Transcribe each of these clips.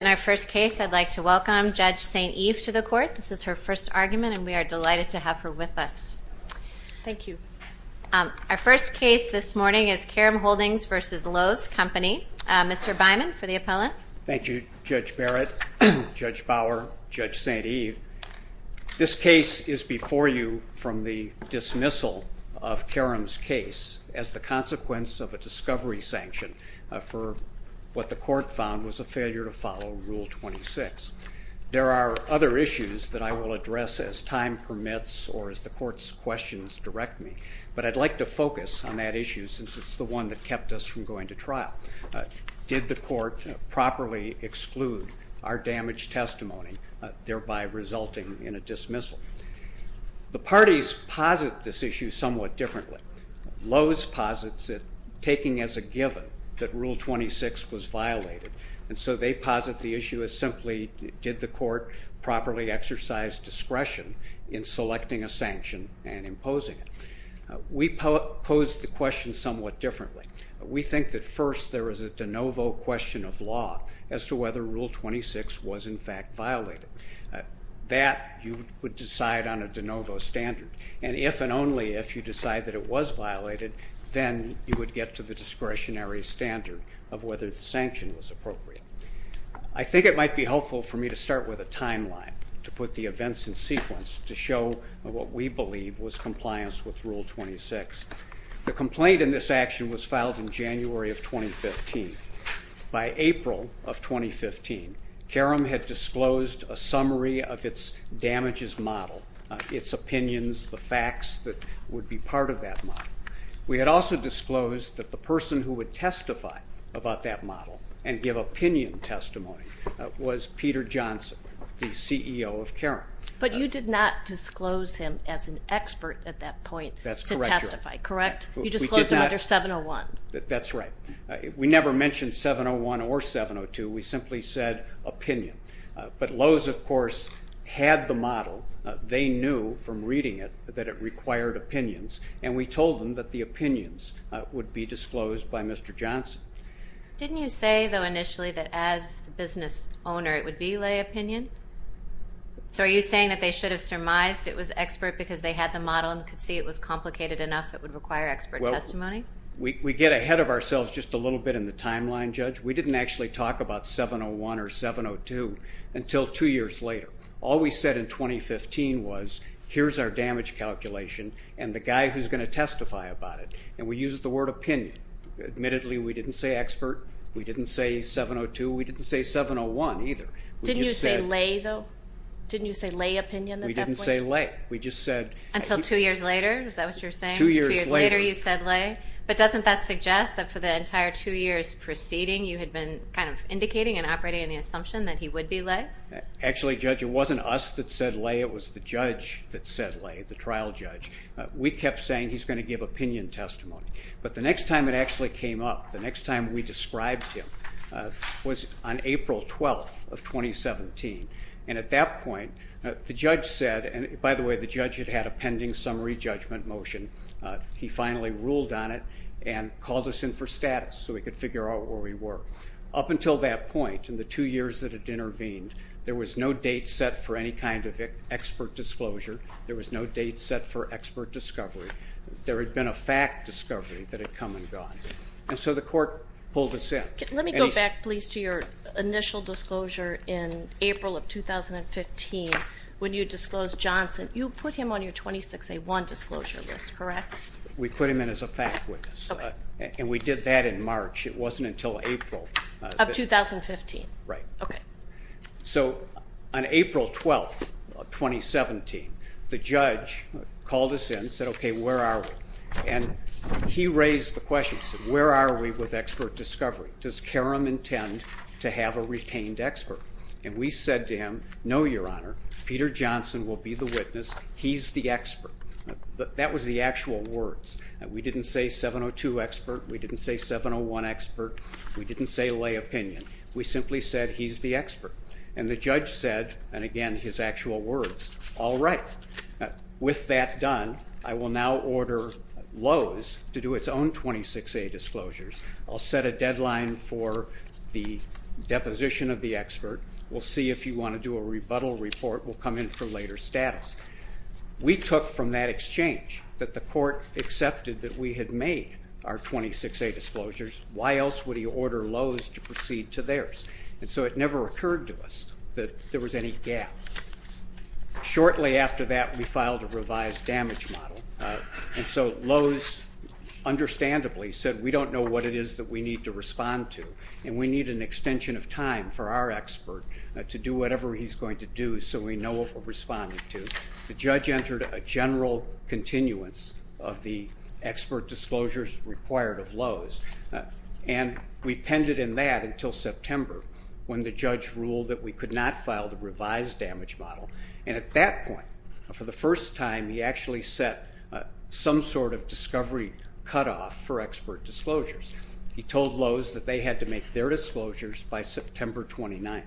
In our first case I'd like to welcome Judge St. Eve to the court. This is her first argument and we are delighted to have her with us. Thank you. Our first case this morning is Karum Holdings v. Lowe's Company. Mr. Byman for the appellant. Thank you Judge Barrett, Judge Bauer, Judge St. Eve. This case is before you from the dismissal of Karum's case as the consequence of a discovery sanction for what the court found was a failure to follow Rule 26. There are other issues that I will address as time permits or as the court's questions direct me, but I'd like to focus on that issue since it's the one that kept us from going to trial. Did the court properly exclude our damaged testimony thereby resulting in a dismissal? The parties posit this issue somewhat differently. Lowe's posits it taking as a given that Rule 26 was violated and so they posit the issue as simply did the court properly exercise discretion in selecting a sanction and imposing it. We pose the question somewhat differently. We think that first there is a de novo question of law as to whether Rule 26 was in fact violated. That you would decide on a de novo standard and if and only if you decide that it was violated then you would get to the discretionary standard of whether the sanction was appropriate. I think it might be helpful for me to start with a timeline to put the events in sequence to show what we believe was compliance with Rule 26. The complaint in this action was filed in January of 2015. By April of 2015 Karum had disclosed a summary of its damages model, its opinions, the facts that would be part of that model. We had also disclosed that the person who would testify about that model and give opinion testimony was Peter Johnson, the CEO of Karum. But you did not disclose him as an expert at that point to testify, correct? You disclosed him under 701. That's right. We never mentioned 701 or 702. We simply said opinion. But Lowe's of they knew from reading it that it required opinions and we told them that the opinions would be disclosed by Mr. Johnson. Didn't you say though initially that as the business owner it would be lay opinion? So are you saying that they should have surmised it was expert because they had the model and could see it was complicated enough it would require expert testimony? We get ahead of ourselves just a little bit in the timeline, Judge. We didn't actually talk about 701 or 702 until two years later. All we said in 2015 was here's our damage calculation and the guy who's going to testify about it. And we used the word opinion. Admittedly we didn't say expert. We didn't say 702. We didn't say 701 either. Didn't you say lay though? Didn't you say lay opinion? We didn't say lay. We just said... Until two years later? Is that what you're saying? Two years later you said lay. But doesn't that suggest that for the entire two years preceding you had been kind of indicating and operating on the assumption that he would be lay? Actually, Judge, it wasn't us that said lay. It was the judge that said lay, the trial judge. We kept saying he's going to give opinion testimony. But the next time it actually came up, the next time we described him, was on April 12th of 2017. And at that point the judge said, and by the way the judge had had a pending summary judgment motion, he finally ruled on it and called us in for it. Up until that point, in the two years that had intervened, there was no date set for any kind of expert disclosure. There was no date set for expert discovery. There had been a fact discovery that had come and gone. And so the court pulled us in. Let me go back please to your initial disclosure in April of 2015 when you disclosed Johnson. You put him on your 26A1 disclosure list, correct? We put him in as a fact witness. And we did that in March. It wasn't until April. Of 2015. Right. Okay. So on April 12th, 2017, the judge called us in, said okay, where are we? And he raised the question, said where are we with expert discovery? Does Karam intend to have a retained expert? And we said to him, no Your Honor, Peter Johnson will be the witness. He's the expert. That was the We didn't say lay opinion. We simply said he's the expert. And the judge said, and again his actual words, all right. With that done, I will now order Lowe's to do its own 26A disclosures. I'll set a deadline for the deposition of the expert. We'll see if you want to do a rebuttal report. We'll come in for later status. We took from that exchange that the court accepted that we had made our order Lowe's to proceed to theirs. And so it never occurred to us that there was any gap. Shortly after that, we filed a revised damage model. And so Lowe's understandably said we don't know what it is that we need to respond to. And we need an extension of time for our expert to do whatever he's going to do so we know what we're responding to. The judge entered a general continuance of the intended in that until September, when the judge ruled that we could not file the revised damage model. And at that point, for the first time, he actually set some sort of discovery cutoff for expert disclosures. He told Lowe's that they had to make their disclosures by September 29th.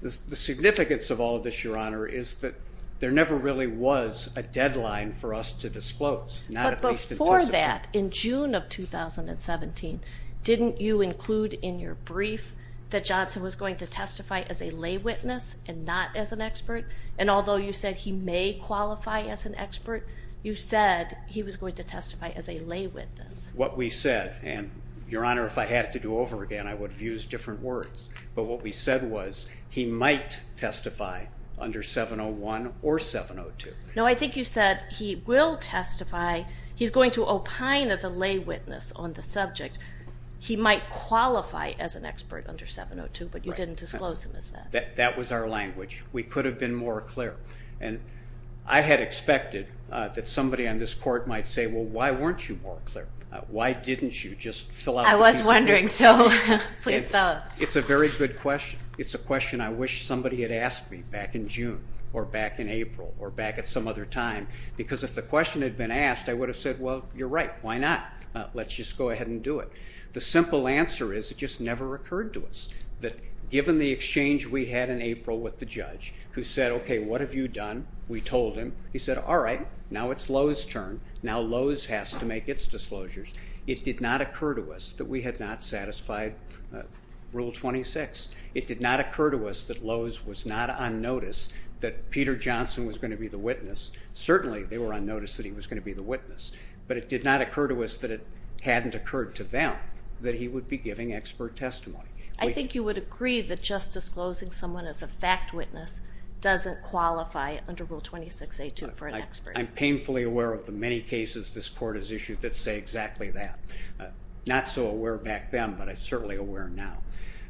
The significance of all of this, Your Honor, is that there never really was a deadline for us to disclose. But before that, in June of 2017, didn't you include in your brief that Johnson was going to testify as a lay witness and not as an expert? And although you said he may qualify as an expert, you said he was going to testify as a lay witness. What we said, and Your Honor, if I had to do over again, I would have used different words, but what we said was he might testify under 701 or 702. No, I think you said he will testify. He's going to opine as a lay witness on the subject. He might qualify as an expert under 702, but you didn't disclose him as that. That was our language. We could have been more clear. And I had expected that somebody on this Court might say, well, why weren't you more clear? Why didn't you just fill out the piece of paper? I was wondering, so please tell us. It's a very good question. It's a question I wish somebody had asked me back in June or back in April or back at some other time, because if the question had been asked, I would have said, well, you're right. Why not? Let's just go ahead and do it. The simple answer is it just never occurred to us that given the exchange we had in April with the judge who said, okay, what have you done? We told him. He said, all right, now it's Lowe's turn. Now Lowe's has to make its disclosures. It did not occur to us that we had not satisfied Rule 26. It did not occur to us that Lowe's was not on notice that Peter Johnson was going to be the witness. Certainly they were on notice that he was going to be the witness, but it did not occur to us that it hadn't occurred to them that he would be giving expert testimony. I think you would agree that just disclosing someone as a fact witness doesn't qualify under Rule 26A2 for an expert. I'm painfully aware of the many cases this Court has issued that say exactly that. Not so aware back then, but I'm certainly aware now.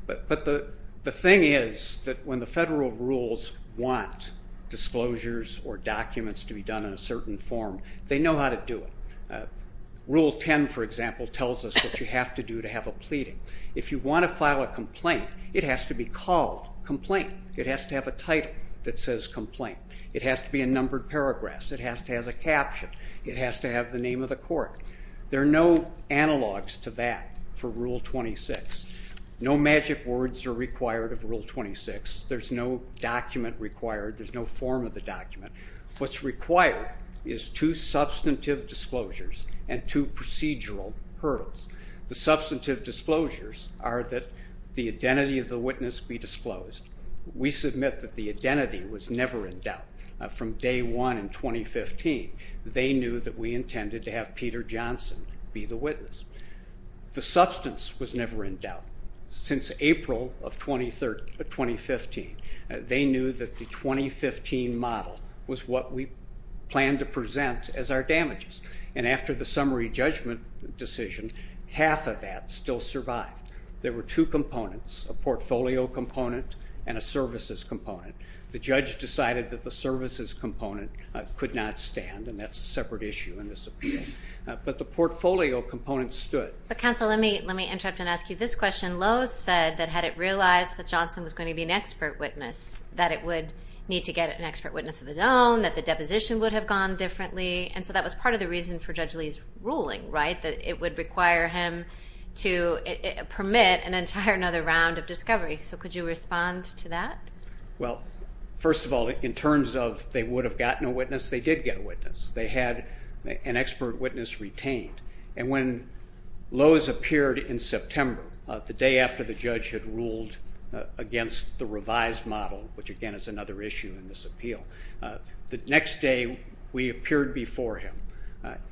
But the thing is that when the federal rules want disclosures or documents to be done in a certain form, they know how to do it. Rule 10, for example, tells us what you have to do to have a pleading. If you want to file a complaint, it has to be called complaint. It has to have a title that says complaint. It has to be a numbered paragraph. It has to have a caption. It has to have the name of the court. There are no analogs to that for Rule 26. No magic words are required of Rule 26. There's no document required. There's no form of the document. What's required is two substantive disclosures and two procedural hurdles. The substantive disclosures are that the identity of the witness be disclosed. We submit that the identity was never in doubt from day one in 2015. They knew that we intended to have Peter Johnson be the witness. The substance was never in doubt. Since April of 2015, they knew that the 2015 model was what we planned to present as our damages, and after the summary judgment decision, half of that still survived. There were two components, a portfolio component and a services component. The judge decided that the services component could not stand, and that's a separate issue in this appeal, but the portfolio component stood. But counsel, let me interrupt and ask you this question. Lowe's said that had it realized that Johnson was going to be an expert witness, that it would need to get an expert witness of his own, that the deposition would have gone differently, and so that was part of the reason for Judge Lee's ruling, right? That it would require him to permit an entire another round of discovery. So could you respond to that? Well, first of all, in terms of they would have gotten a witness, they did get a expert witness retained, and when Lowe's appeared in September, the day after the judge had ruled against the revised model, which again is another issue in this appeal, the next day we appeared before him,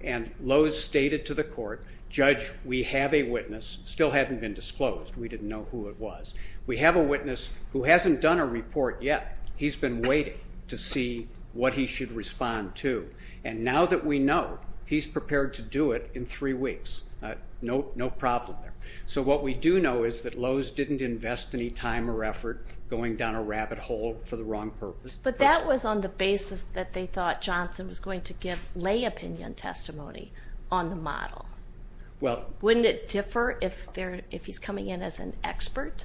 and Lowe's stated to the court, Judge, we have a witness, still hadn't been disclosed, we didn't know who it was. We have a witness who hasn't done a report yet. He's been waiting to see what he should respond to, and now that we know, he's prepared to do it in three weeks. No problem there. So what we do know is that Lowe's didn't invest any time or effort going down a rabbit hole for the wrong purpose. But that was on the basis that they thought Johnson was going to give lay opinion testimony on the model. Well, wouldn't it differ if he's coming in as an expert?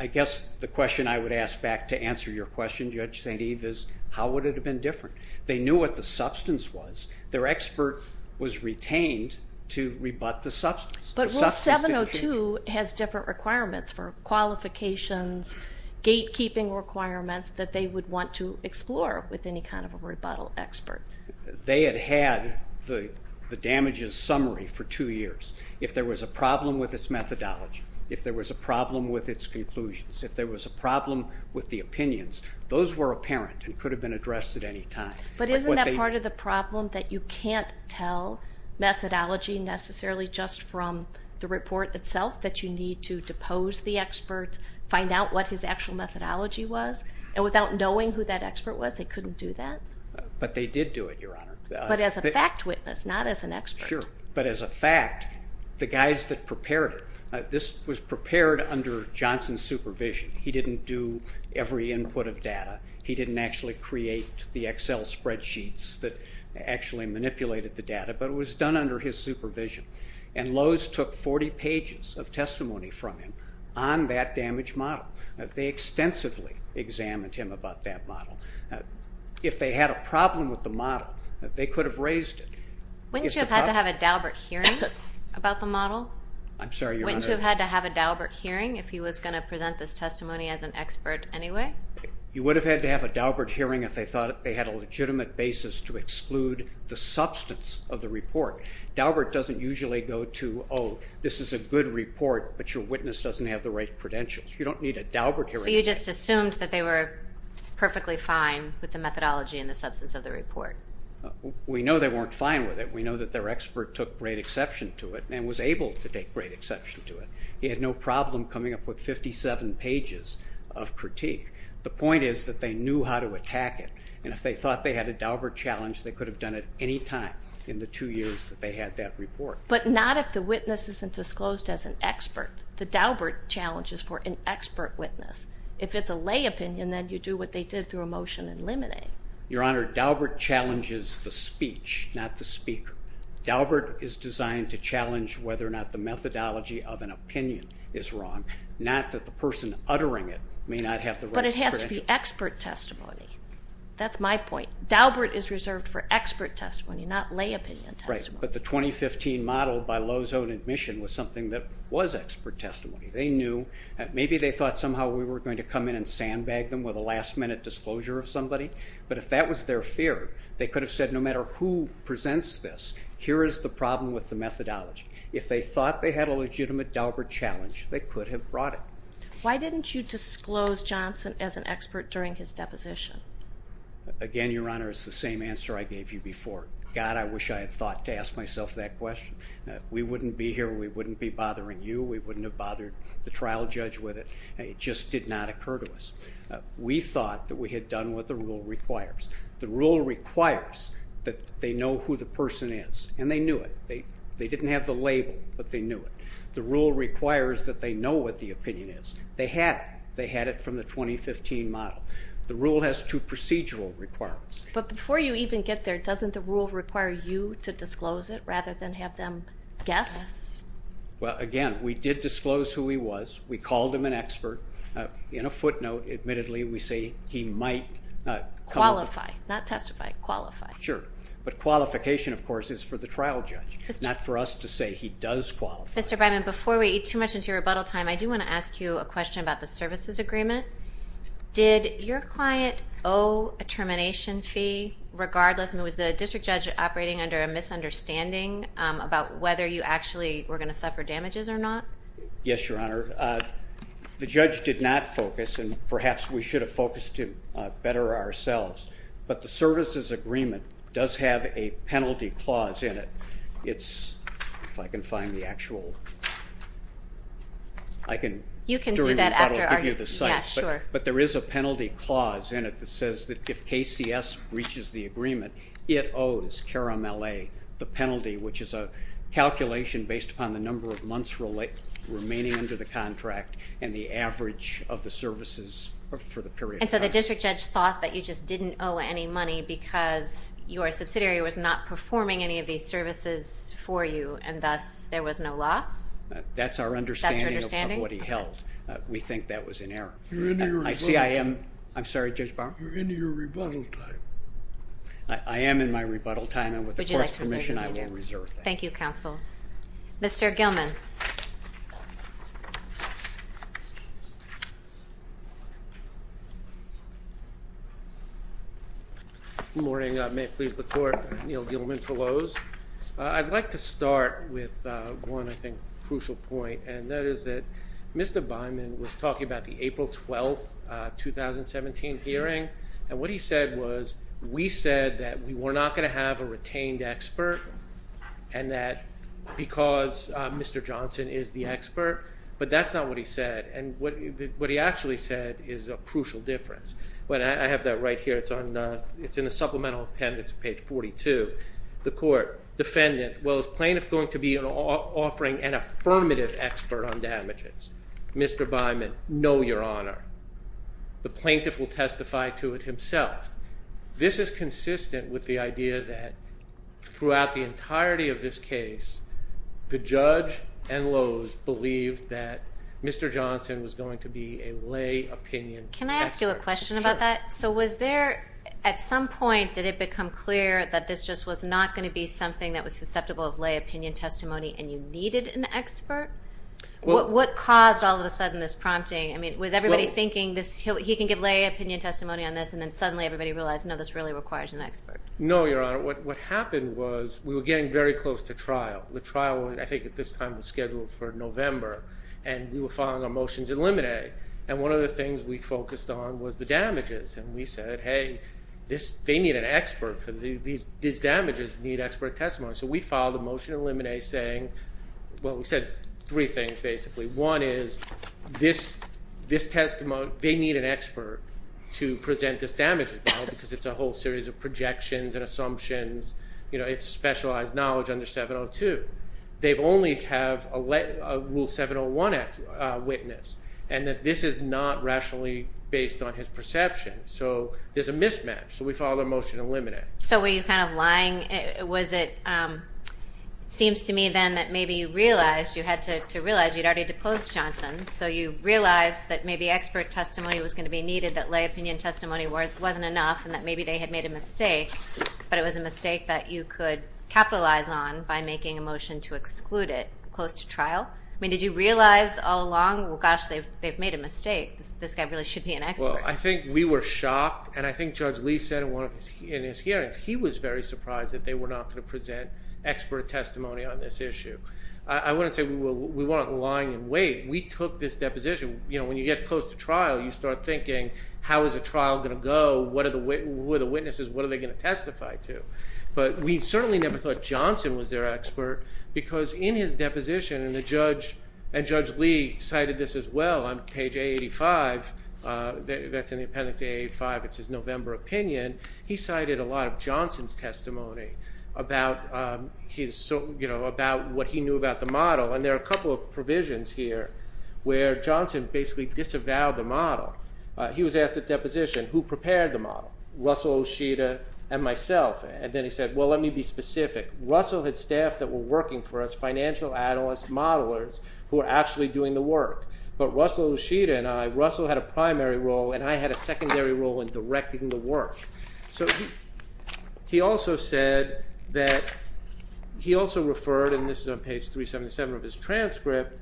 I guess the question I would ask back to answer your question, Judge St. Eve, is how would it have been different? They knew what the substance was. Their expert was retained to rebut the substance. But Rule 702 has different requirements for qualifications, gatekeeping requirements that they would want to explore with any kind of a rebuttal expert. They had had the damages summary for two years. If there was a problem with its methodology, if there was a problem with its conclusions, if there was a problem with the opinions, those were apparent and could have been addressed at any time. But isn't that part of the problem, that you can't tell methodology necessarily just from the report itself, that you need to depose the expert, find out what his actual methodology was, and without knowing who that expert was, they couldn't do that? But they did do it, Your Honor. But as a fact witness, not as an expert. Sure, but as a fact, the guys that prepared it, this was prepared under Johnson's supervision. He didn't do every input of data. He didn't actually create the Excel spreadsheets that actually manipulated the data, but it was done under his supervision. And Lowe's took 40 pages of testimony from him on that damaged model. They extensively examined him about that model. If they had a problem with the model, they could have raised it. Wouldn't you have had to have a Dalbert hearing about the model? I'm sorry, Your Honor. Wouldn't you have had to have a Dalbert hearing if he was going to present this You would have had to have a Dalbert hearing if they thought they had a legitimate basis to exclude the substance of the report. Dalbert doesn't usually go to, oh, this is a good report, but your witness doesn't have the right credentials. You don't need a Dalbert hearing. So you just assumed that they were perfectly fine with the methodology and the substance of the report? We know they weren't fine with it. We know that their expert took great exception to it and was able to take great exception to it. He had no problem coming up with 57 pages of critique. The point is that they knew how to attack it, and if they thought they had a Dalbert challenge, they could have done it any time in the two years that they had that report. But not if the witness isn't disclosed as an expert. The Dalbert challenge is for an expert witness. If it's a lay opinion, then you do what they did through a motion and eliminate. Your Honor, Dalbert challenges the speech, not the speaker. Dalbert is designed to challenge whether or not the methodology of an opinion is wrong, not that the person uttering it may not have the right credentials. But it has to be expert testimony. That's my point. Dalbert is reserved for expert testimony, not lay opinion testimony. Right, but the 2015 model by Lowe's Own Admission was something that was expert testimony. They knew, maybe they thought somehow we were going to come in and sandbag them with a last-minute disclosure of somebody, but if that was their fear, they could have said, no matter who presents this, here is the problem with the methodology. If they thought they had a legitimate Dalbert challenge, they could have brought it. Why didn't you disclose Johnson as an expert during his deposition? Again, Your Honor, it's the same answer I gave you before. God, I wish I had thought to ask myself that question. We wouldn't be here, we wouldn't be bothering you, we wouldn't have bothered the trial judge with it. It just did not occur to us. We thought that we had done what the rule requires. The rule requires that they know who the person is, and they knew it. They didn't have the label, but they knew it. The rule requires that they know what the opinion is. They had it from the 2015 model. The rule has two procedural requirements. But before you even get there, doesn't the rule require you to disclose it rather than have them guess? Well, again, we did disclose who he was. We called him an expert. In a footnote, admittedly, we say he might... Qualify, not testify, qualify. Sure, but qualification, of course, is for the trial judge. It's not for us to say he does qualify. Mr. Byman, before we eat too much into your rebuttal time, I do want to ask you a question about the services agreement. Did your client owe a termination fee regardless, and was the district judge operating under a misunderstanding about whether you actually were going to suffer damages or not? Yes, Your Honor. The judge did not focus, and perhaps we should have focused him better ourselves, but the services agreement does have a penalty clause in it. It's, if I can find the actual... I can... You can see that after our... I'll give you the site. But there is a penalty clause in it that says that if KCS reaches the agreement, it owes Karam L.A. the penalty, which is a calculation based upon the months remaining under the contract and the average of the services for the period of time. And so the district judge thought that you just didn't owe any money because your subsidiary was not performing any of these services for you, and thus there was no loss? That's our understanding of what he held. We think that was in error. You're in your rebuttal time. I see I am. I'm sorry, Judge Barham. You're in your rebuttal time. I am in my rebuttal time, and with the court's permission, I will reserve that. Thank you, counsel. Mr. Gilman. Good morning. May it please the court, Neil Gilman for Lowe's. I'd like to start with one, I think, crucial point, and that is that Mr. Bynum was talking about the April 12, 2017 hearing, and what he said was, we said that we were not going to have a hearing, and that because Mr. Johnson is the expert, but that's not what he said. And what he actually said is a crucial difference. I have that right here. It's in the supplemental appendix, page 42. The court, defendant, well, is plaintiff going to be offering an affirmative expert on damages? Mr. Bynum, no, your honor. The plaintiff will testify to it himself. This is consistent with the idea that throughout the entirety of this case, the judge and Lowe's believed that Mr. Johnson was going to be a lay opinion expert. Can I ask you a question about that? So was there, at some point, did it become clear that this just was not going to be something that was susceptible of lay opinion testimony, and you needed an expert? What caused, all of a sudden, this prompting? I mean, was everybody thinking this, he can give lay opinion testimony on this, and then suddenly everybody realized, no, this really requires an expert? No, your honor. What happened was, we were getting very close to trial. The trial, I think at this time, was scheduled for November, and we were filing our motions in limine, and one of the things we focused on was the damages. And we said, hey, this, they need an expert for these, these damages need expert testimony. So we filed a motion in limine saying, well, we said three things, basically. One is, this, this requires an expert to present this damage, because it's a whole series of projections and assumptions, you know, it's specialized knowledge under 702. They've only have a rule 701 witness, and that this is not rationally based on his perception. So there's a mismatch. So we filed a motion in limine. So were you kind of lying? Was it, seems to me then that maybe you realized, you had to realize you'd already deposed Johnson, so you realized that maybe expert testimony was going to be needed, that lay opinion testimony wasn't enough, and that maybe they had made a mistake, but it was a mistake that you could capitalize on by making a motion to exclude it close to trial. I mean, did you realize all along, well gosh, they've, they've made a mistake. This guy really should be an expert. Well, I think we were shocked, and I think Judge Lee said in one of his, in his hearings, he was very surprised that they were not going to present expert testimony on this issue. I wouldn't say we were, we weren't lying in wait. We took this deposition, you know, when you get close to trial, you start thinking, how is a trial going to go? What are the, who are the witnesses? What are they going to testify to? But we certainly never thought Johnson was their expert, because in his deposition, and the judge, and Judge Lee cited this as well on page A85, that's in the appendix A85, it's his November opinion, he cited a lot of Johnson's testimony about his, you know, about what he knew about the model, and there are a couple of provisions here where Johnson basically disavowed the model. He was asked at deposition, who prepared the model? Russell, Ushita, and myself, and then he said, well let me be specific. Russell had staff that were working for us, financial analysts, modelers, who are actually doing the work, but Russell, Ushita, and I, Russell had a primary role, and I had a secondary role in directing the work. So he also said that, he also in page 377 of his transcript,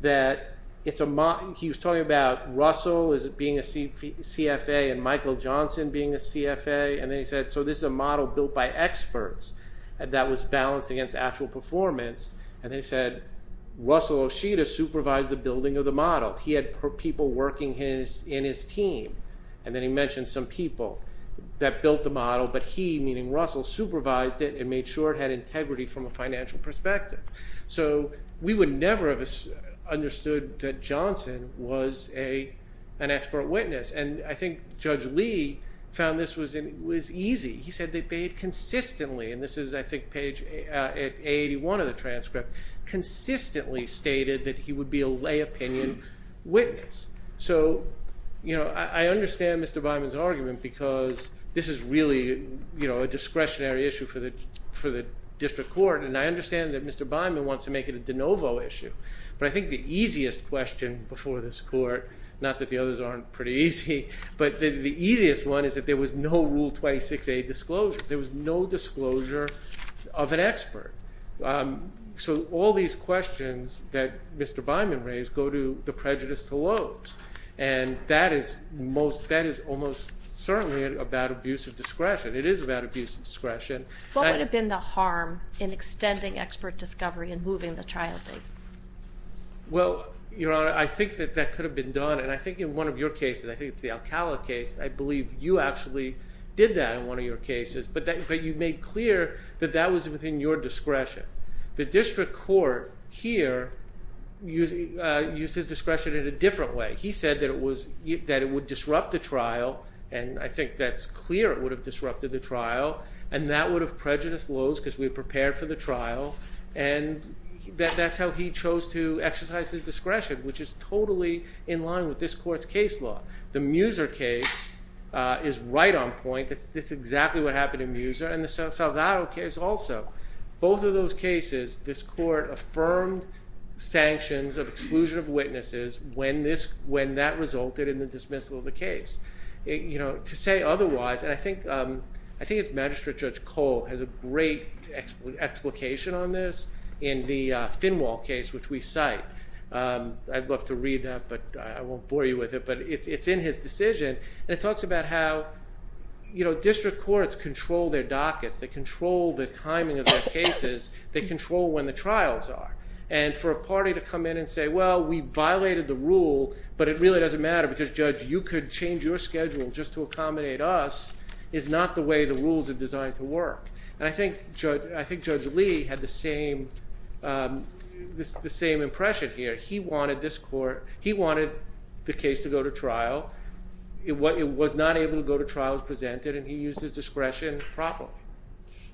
that it's a model, he was talking about Russell being a CFA, and Michael Johnson being a CFA, and then he said, so this is a model built by experts, and that was balanced against actual performance, and then he said, Russell Ushita supervised the building of the model. He had people working in his team, and then he mentioned some people that built the model, but he, meaning Russell, supervised it, and made sure it had integrity from a perspective. So we would never have understood that Johnson was an expert witness, and I think Judge Lee found this was easy. He said they paid consistently, and this is, I think, page 881 of the transcript, consistently stated that he would be a lay opinion witness. So, you know, I understand Mr. Byman's argument, because this is really, you know, a discretionary issue for the District Court, and I understand that Mr. Byman wants to make it a de novo issue, but I think the easiest question before this Court, not that the others aren't pretty easy, but the easiest one is that there was no Rule 26a disclosure. There was no disclosure of an expert. So all these questions that Mr. Byman raised go to the prejudice to lobes, and that is most, that is almost certainly a bad abuse of discretion. It is a bad abuse of discretion. What would have been the harm in extending expert discovery and moving the trial date? Well, Your Honor, I think that that could have been done, and I think in one of your cases, I think it's the Alcala case, I believe you actually did that in one of your cases, but that, but you made clear that that was within your discretion. The District Court here used his discretion in a different way. He said that it was, that it would have disrupted the trial, and that would have prejudiced lobes because we had prepared for the trial, and that's how he chose to exercise his discretion, which is totally in line with this Court's case law. The Muser case is right on point. That's exactly what happened in Muser, and the Salgado case also. Both of those cases, this Court affirmed sanctions of exclusion of witnesses when this, when that resulted in the dismissal of the case. You know, to say otherwise, and I think, I think it's Magistrate Judge Cole has a great explication on this in the Finwall case, which we cite. I'd love to read that, but I won't bore you with it, but it's in his decision, and it talks about how, you know, District Courts control their dockets. They control the timing of their cases. They control when the trials are, and for a party to come in and say, well, we violated the rule, but it really doesn't matter because, Judge, you could change your schedule just to accommodate us, is not the way the rules are designed to work, and I think, Judge, I think Judge Lee had the same, the same impression here. He wanted this Court, he wanted the case to go to trial. It was not able to go to trial as presented, and he used his discretion properly.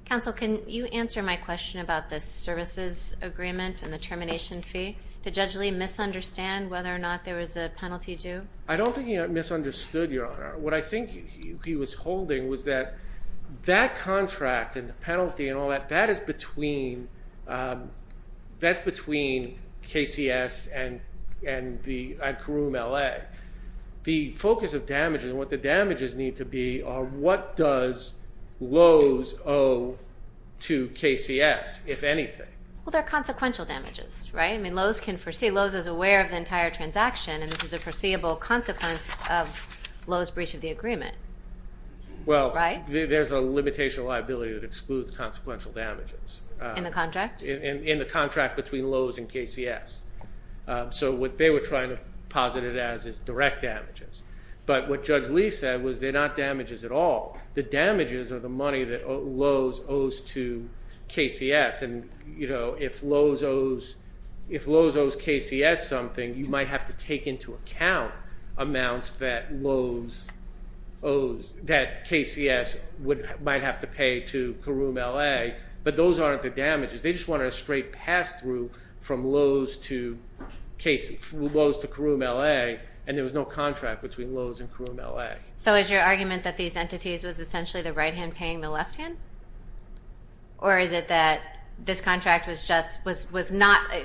Counsel, can you answer my question about the services agreement and the termination fee? Did Judge Lee misunderstand whether or not there was a penalty due? I don't think he misunderstood, Your Honor. What I think he was holding was that that contract and the penalty and all that, that is between, that's between KCS and and the, at Caroom LA. The focus of damages and what the damages need to be are what does Lowe's owe to KCS, if anything? Well, they're consequential damages, right? I mean, Lowe's can foresee, Lowe's is aware of the entire transaction, and this is a foreseeable consequence of Lowe's breach of the agreement, right? Well, there's a limitation liability that excludes consequential damages. In the contract? In the contract between Lowe's and KCS. So what they were trying to posit it as is direct damages, but what Judge Lee said was they're not damages at all. The damages are the money that Lowe's owes to KCS, and you know, if Lowe's owes KCS something, you might have to take into account amounts that Lowe's owes, that KCS would, might have to pay to Caroom LA, but those aren't the damages. They just wanted a straight pass-through from Lowe's to KCS, Lowe's to Caroom LA, and there was no contract between Lowe's and Caroom LA. So is your argument that these entities was essentially the right-hand paying the not,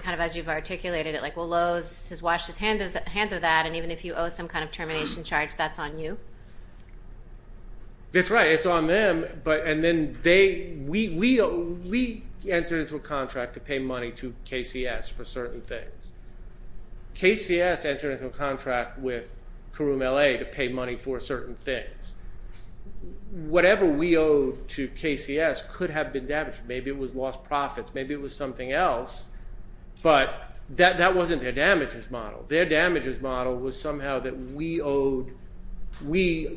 kind of as you've articulated it, like well Lowe's has washed his hands of that, and even if you owe some kind of termination charge that's on you? That's right, it's on them, but, and then they, we entered into a contract to pay money to KCS for certain things. KCS entered into a contract with Caroom LA to pay money for certain things. Whatever we owed to KCS could have been damaged, maybe it was lost profits, maybe it was something else, but that wasn't their damages model. Their damages model was somehow that we owed, we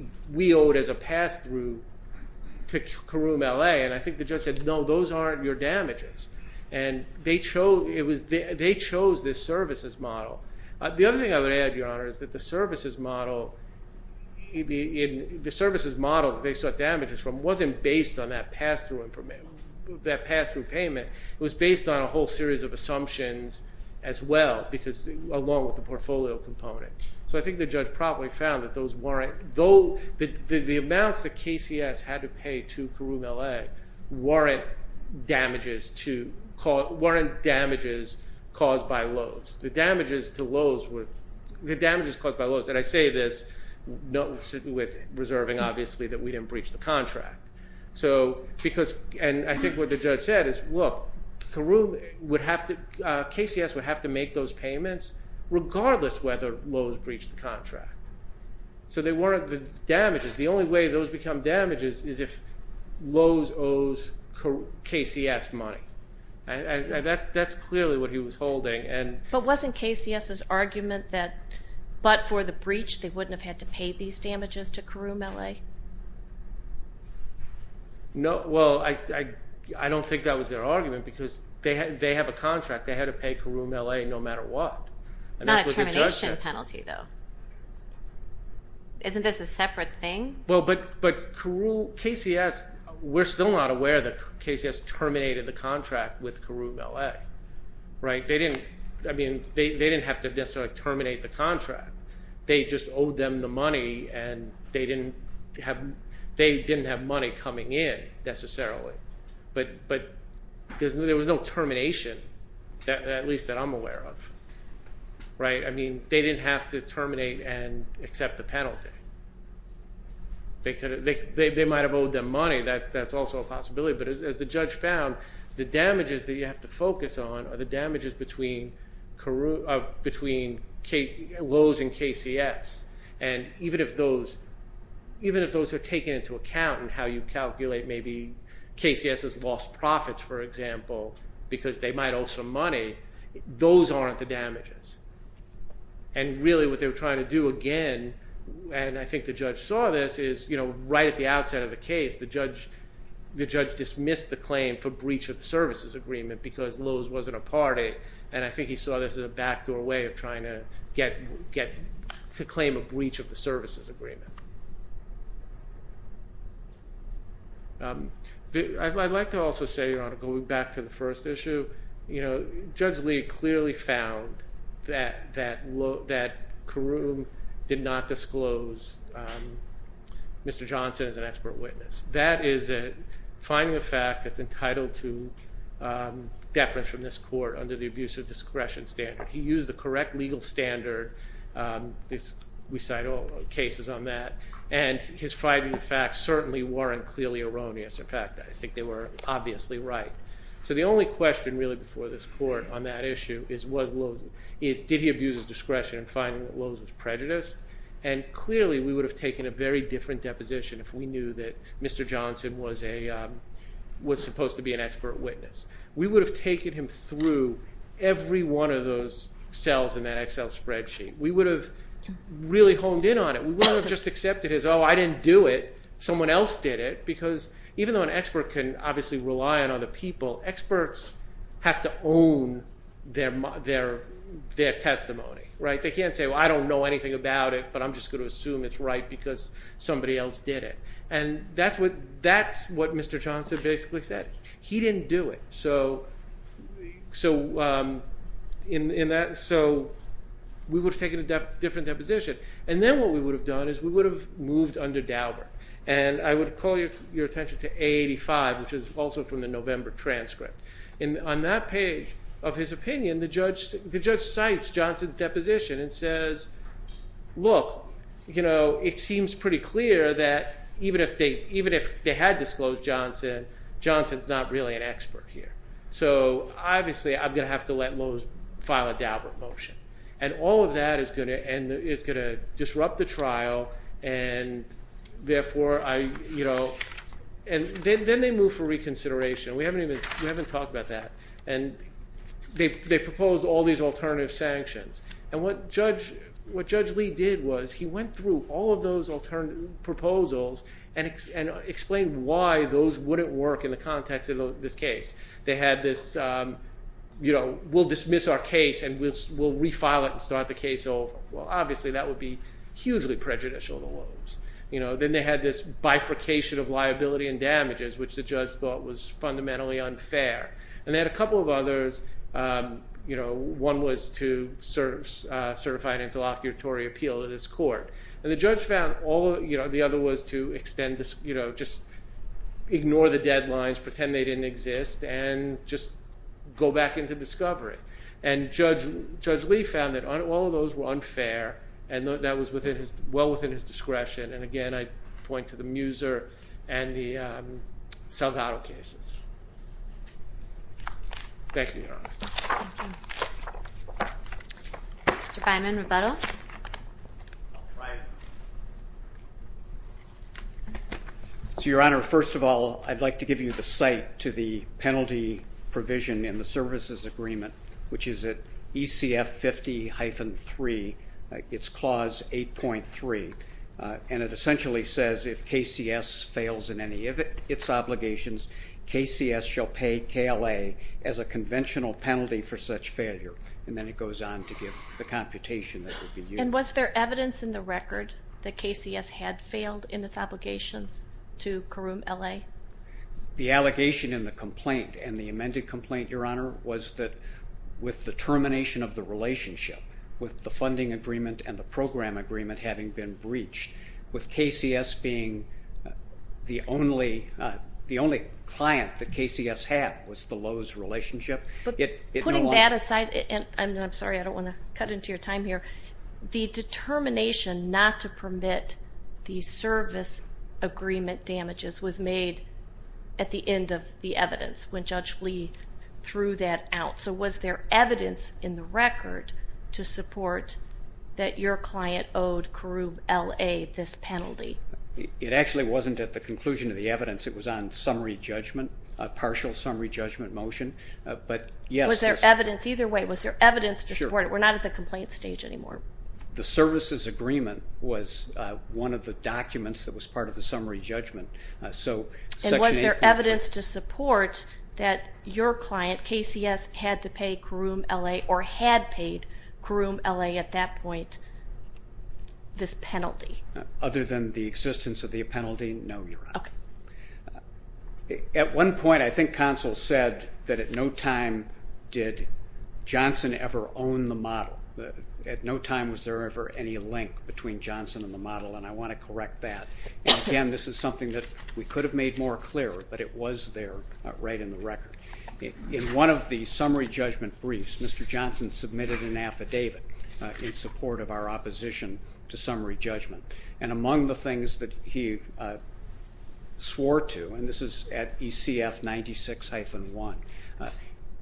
owed as a pass-through to Caroom LA, and I think the judge said no, those aren't your damages, and they chose, it was, they chose this services model. The other thing I would add, Your Honor, is that the services model, the services model they sought damages from, wasn't based on that pass-through, that pass-through payment, it was based on a whole series of assumptions as well, because, along with the portfolio component. So I think the judge probably found that those weren't, though the amounts that KCS had to pay to Caroom LA weren't damages to, weren't damages caused by Lowe's. The damages to Lowe's were, the damages caused by Lowe's, and I say this with reserving obviously that we didn't breach the contract. So, because, and I think what the judge said is, look, Caroom would have to, KCS would have to make those payments regardless whether Lowe's breached the contract. So they weren't the damages, the only way those become damages is if Lowe's owes KCS money, and that's clearly what he was holding. But wasn't KCS's argument that, but for the breach, they didn't, no, well, I don't think that was their argument because they had, they have a contract, they had to pay Caroom LA no matter what. Not a termination penalty though. Isn't this a separate thing? Well, but, but Caroom, KCS, we're still not aware that KCS terminated the contract with Caroom LA, right? They didn't, I mean, they didn't have to necessarily terminate the contract. They just owed them the money and they didn't have, they didn't have money coming in necessarily. But, but there's no, there was no termination, at least that I'm aware of, right? I mean, they didn't have to terminate and accept the penalty. They could have, they, they might have owed them money, that, that's also a possibility. But as the judge found, the damages that you have to focus on are the damages between Caroom, between Lowe's and KCS. And even if those, even if those are taken into account in how you calculate maybe KCS's lost profits, for example, because they might owe some money, those aren't the damages. And really what they were trying to do again, and I think the judge saw this, is, you know, right at the outset of the case, the judge, the judge dismissed the claim for breach of the services agreement. And I think he saw this as a backdoor way of trying to get, get to claim a breach of the services agreement. I'd like to also say, Your Honor, going back to the first issue, you know, Judge Lee clearly found that, that Caroom did not disclose Mr. Johnson as an expert witness. That is a finding of fact that's entitled to deference from this court under the abuse of discretion standard. He used the correct legal standard. This, we cite all cases on that. And his finding of fact certainly weren't clearly erroneous. In fact, I think they were obviously right. So the only question really before this court on that issue is, was Lowe's, is did he abuse his discretion in finding that Lowe's was prejudiced? And clearly we would have taken a very different deposition if we thought that Mr. Johnson was a, was supposed to be an expert witness. We would have taken him through every one of those cells in that Excel spreadsheet. We would have really honed in on it. We would have just accepted as, oh, I didn't do it. Someone else did it. Because even though an expert can obviously rely on other people, experts have to own their, their, their testimony, right? They can't say, well, I don't know anything about it, but I'm just going to assume it's right because somebody else did it. And that's what, that's what Mr. Johnson basically said. He didn't do it. So, so in, in that, so we would have taken a different deposition. And then what we would have done is we would have moved under Dauber. And I would call your attention to A85, which is also from the November transcript. And on that page of his opinion, the judge, the judge cites Johnson's deposition and says, look, you know, it seems pretty clear that even if they, even if they had disclosed Johnson, Johnson's not really an expert here. So obviously I'm going to have to let Lowe's file a Dauber motion. And all of that is going to, and it's going to disrupt the trial. And therefore, I, you know, and then, then they move for reconsideration. We haven't even, we haven't talked about that. And they, they proposed all these alternative sanctions. And what Judge, what Judge Lee did was he went through all of those alternative proposals and, and explained why those wouldn't work in the context of this case. They had this, you know, we'll dismiss our case and we'll, we'll refile it and start the case over. Well, obviously that would be hugely prejudicial to Lowe's. You know, then they had this bifurcation of liability and damages, which the judge thought was fundamentally unfair. And they had a two options. You know, one was to serve, certify an interlocutory appeal to this court. And the judge found all, you know, the other was to extend this, you know, just ignore the deadlines, pretend they didn't exist, and just go back into discovery. And Judge, Judge Lee found that all of those were unfair and that was within his, well within his discretion. And again, I point to the Mr. Feynman, rebuttal. So, Your Honor, first of all, I'd like to give you the site to the penalty provision in the services agreement, which is at ECF 50-3, it's clause 8.3. And it essentially says if KCS fails in any of its obligations, KCS shall pay KLA as a conventional penalty for such failure. And then it goes on to give the computation that would be used. And was there evidence in the record that KCS had failed in its obligations to Karoom LA? The allegation in the complaint and the amended complaint, Your Honor, was that with the termination of the relationship, with the funding agreement and the program agreement having been breached, with KCS being the only, the only client that KCS had was the Lowe's relationship. But putting that aside, and I'm sorry, I don't want to cut into your time here, the determination not to permit the service agreement damages was made at the end of the evidence when Judge Lee threw that out. So was there evidence in the penalty? It actually wasn't at the conclusion of the evidence. It was on summary judgment, a partial summary judgment motion, but yes. Was there evidence either way? Was there evidence to support it? We're not at the complaint stage anymore. The services agreement was one of the documents that was part of the summary judgment. So was there evidence to support that your client, KCS, had to pay Karoom LA, or had paid Karoom LA at that point, this penalty? Other than the existence of the penalty, no, Your Honor. At one point, I think Consul said that at no time did Johnson ever own the model. At no time was there ever any link between Johnson and the model, and I want to correct that. Again, this is something that we could have made more clear, but it was there right in the record. In one of the summary judgment briefs, Mr. Johnson submitted an affidavit in support of our opposition to summary judgment, and among the things that he swore to, and this is at ECF 96-1,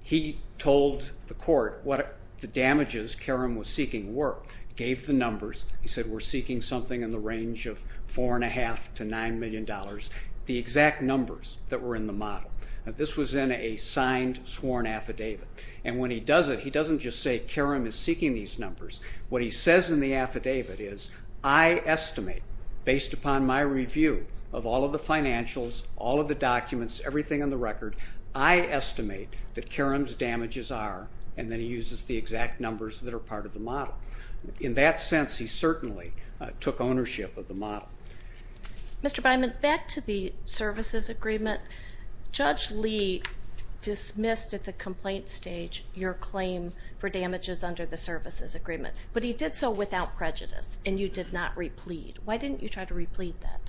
he told the court what the damages Karoom was seeking were, gave the numbers, he said we're seeking something in the range of four and a half to nine million dollars, the exact numbers that were in the model. Now this was in a signed, sworn affidavit, and when he does it, he doesn't just say Karoom is seeking these numbers. What he says in the affidavit is, I estimate, based upon my review of all of the financials, all of the documents, everything on the record, I estimate that Karoom's damages are, and then he uses the exact numbers that are part of the model. In that sense, he certainly took ownership of the model. Mr. Byman, back to the services agreement, Judge Lee dismissed at the complaint stage your claim for damages under the services agreement, but he did so without prejudice, and you did not replead. Why didn't you try to replead that?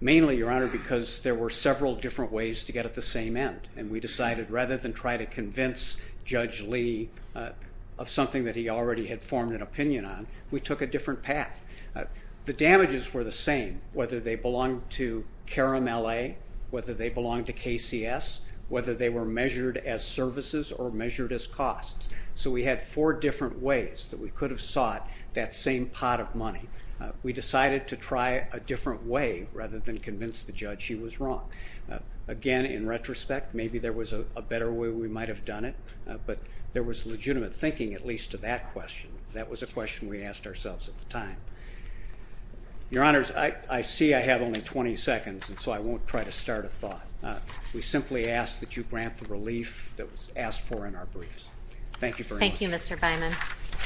Mainly, Your Honor, because there were several different ways to get at the same end, and we decided rather than try to convince Judge Lee of something that he already had formed an opinion on, we took a different path. The damages were the same, whether they belonged to Karoom LA, whether they belonged to KCS, whether they were measured as services or measured as costs. So we had four different ways that we could have sought that same pot of money. We decided to try a different way rather than convince the judge he was wrong. Again, in retrospect, maybe there was a better way we might have done it, but there was legitimate thinking, at least to that question. That was a question we asked you. I see I have only 20 seconds, and so I won't try to start a thought. We simply ask that you grant the relief that was asked for in our briefs. Thank you very much. Thank you, Mr. Byman.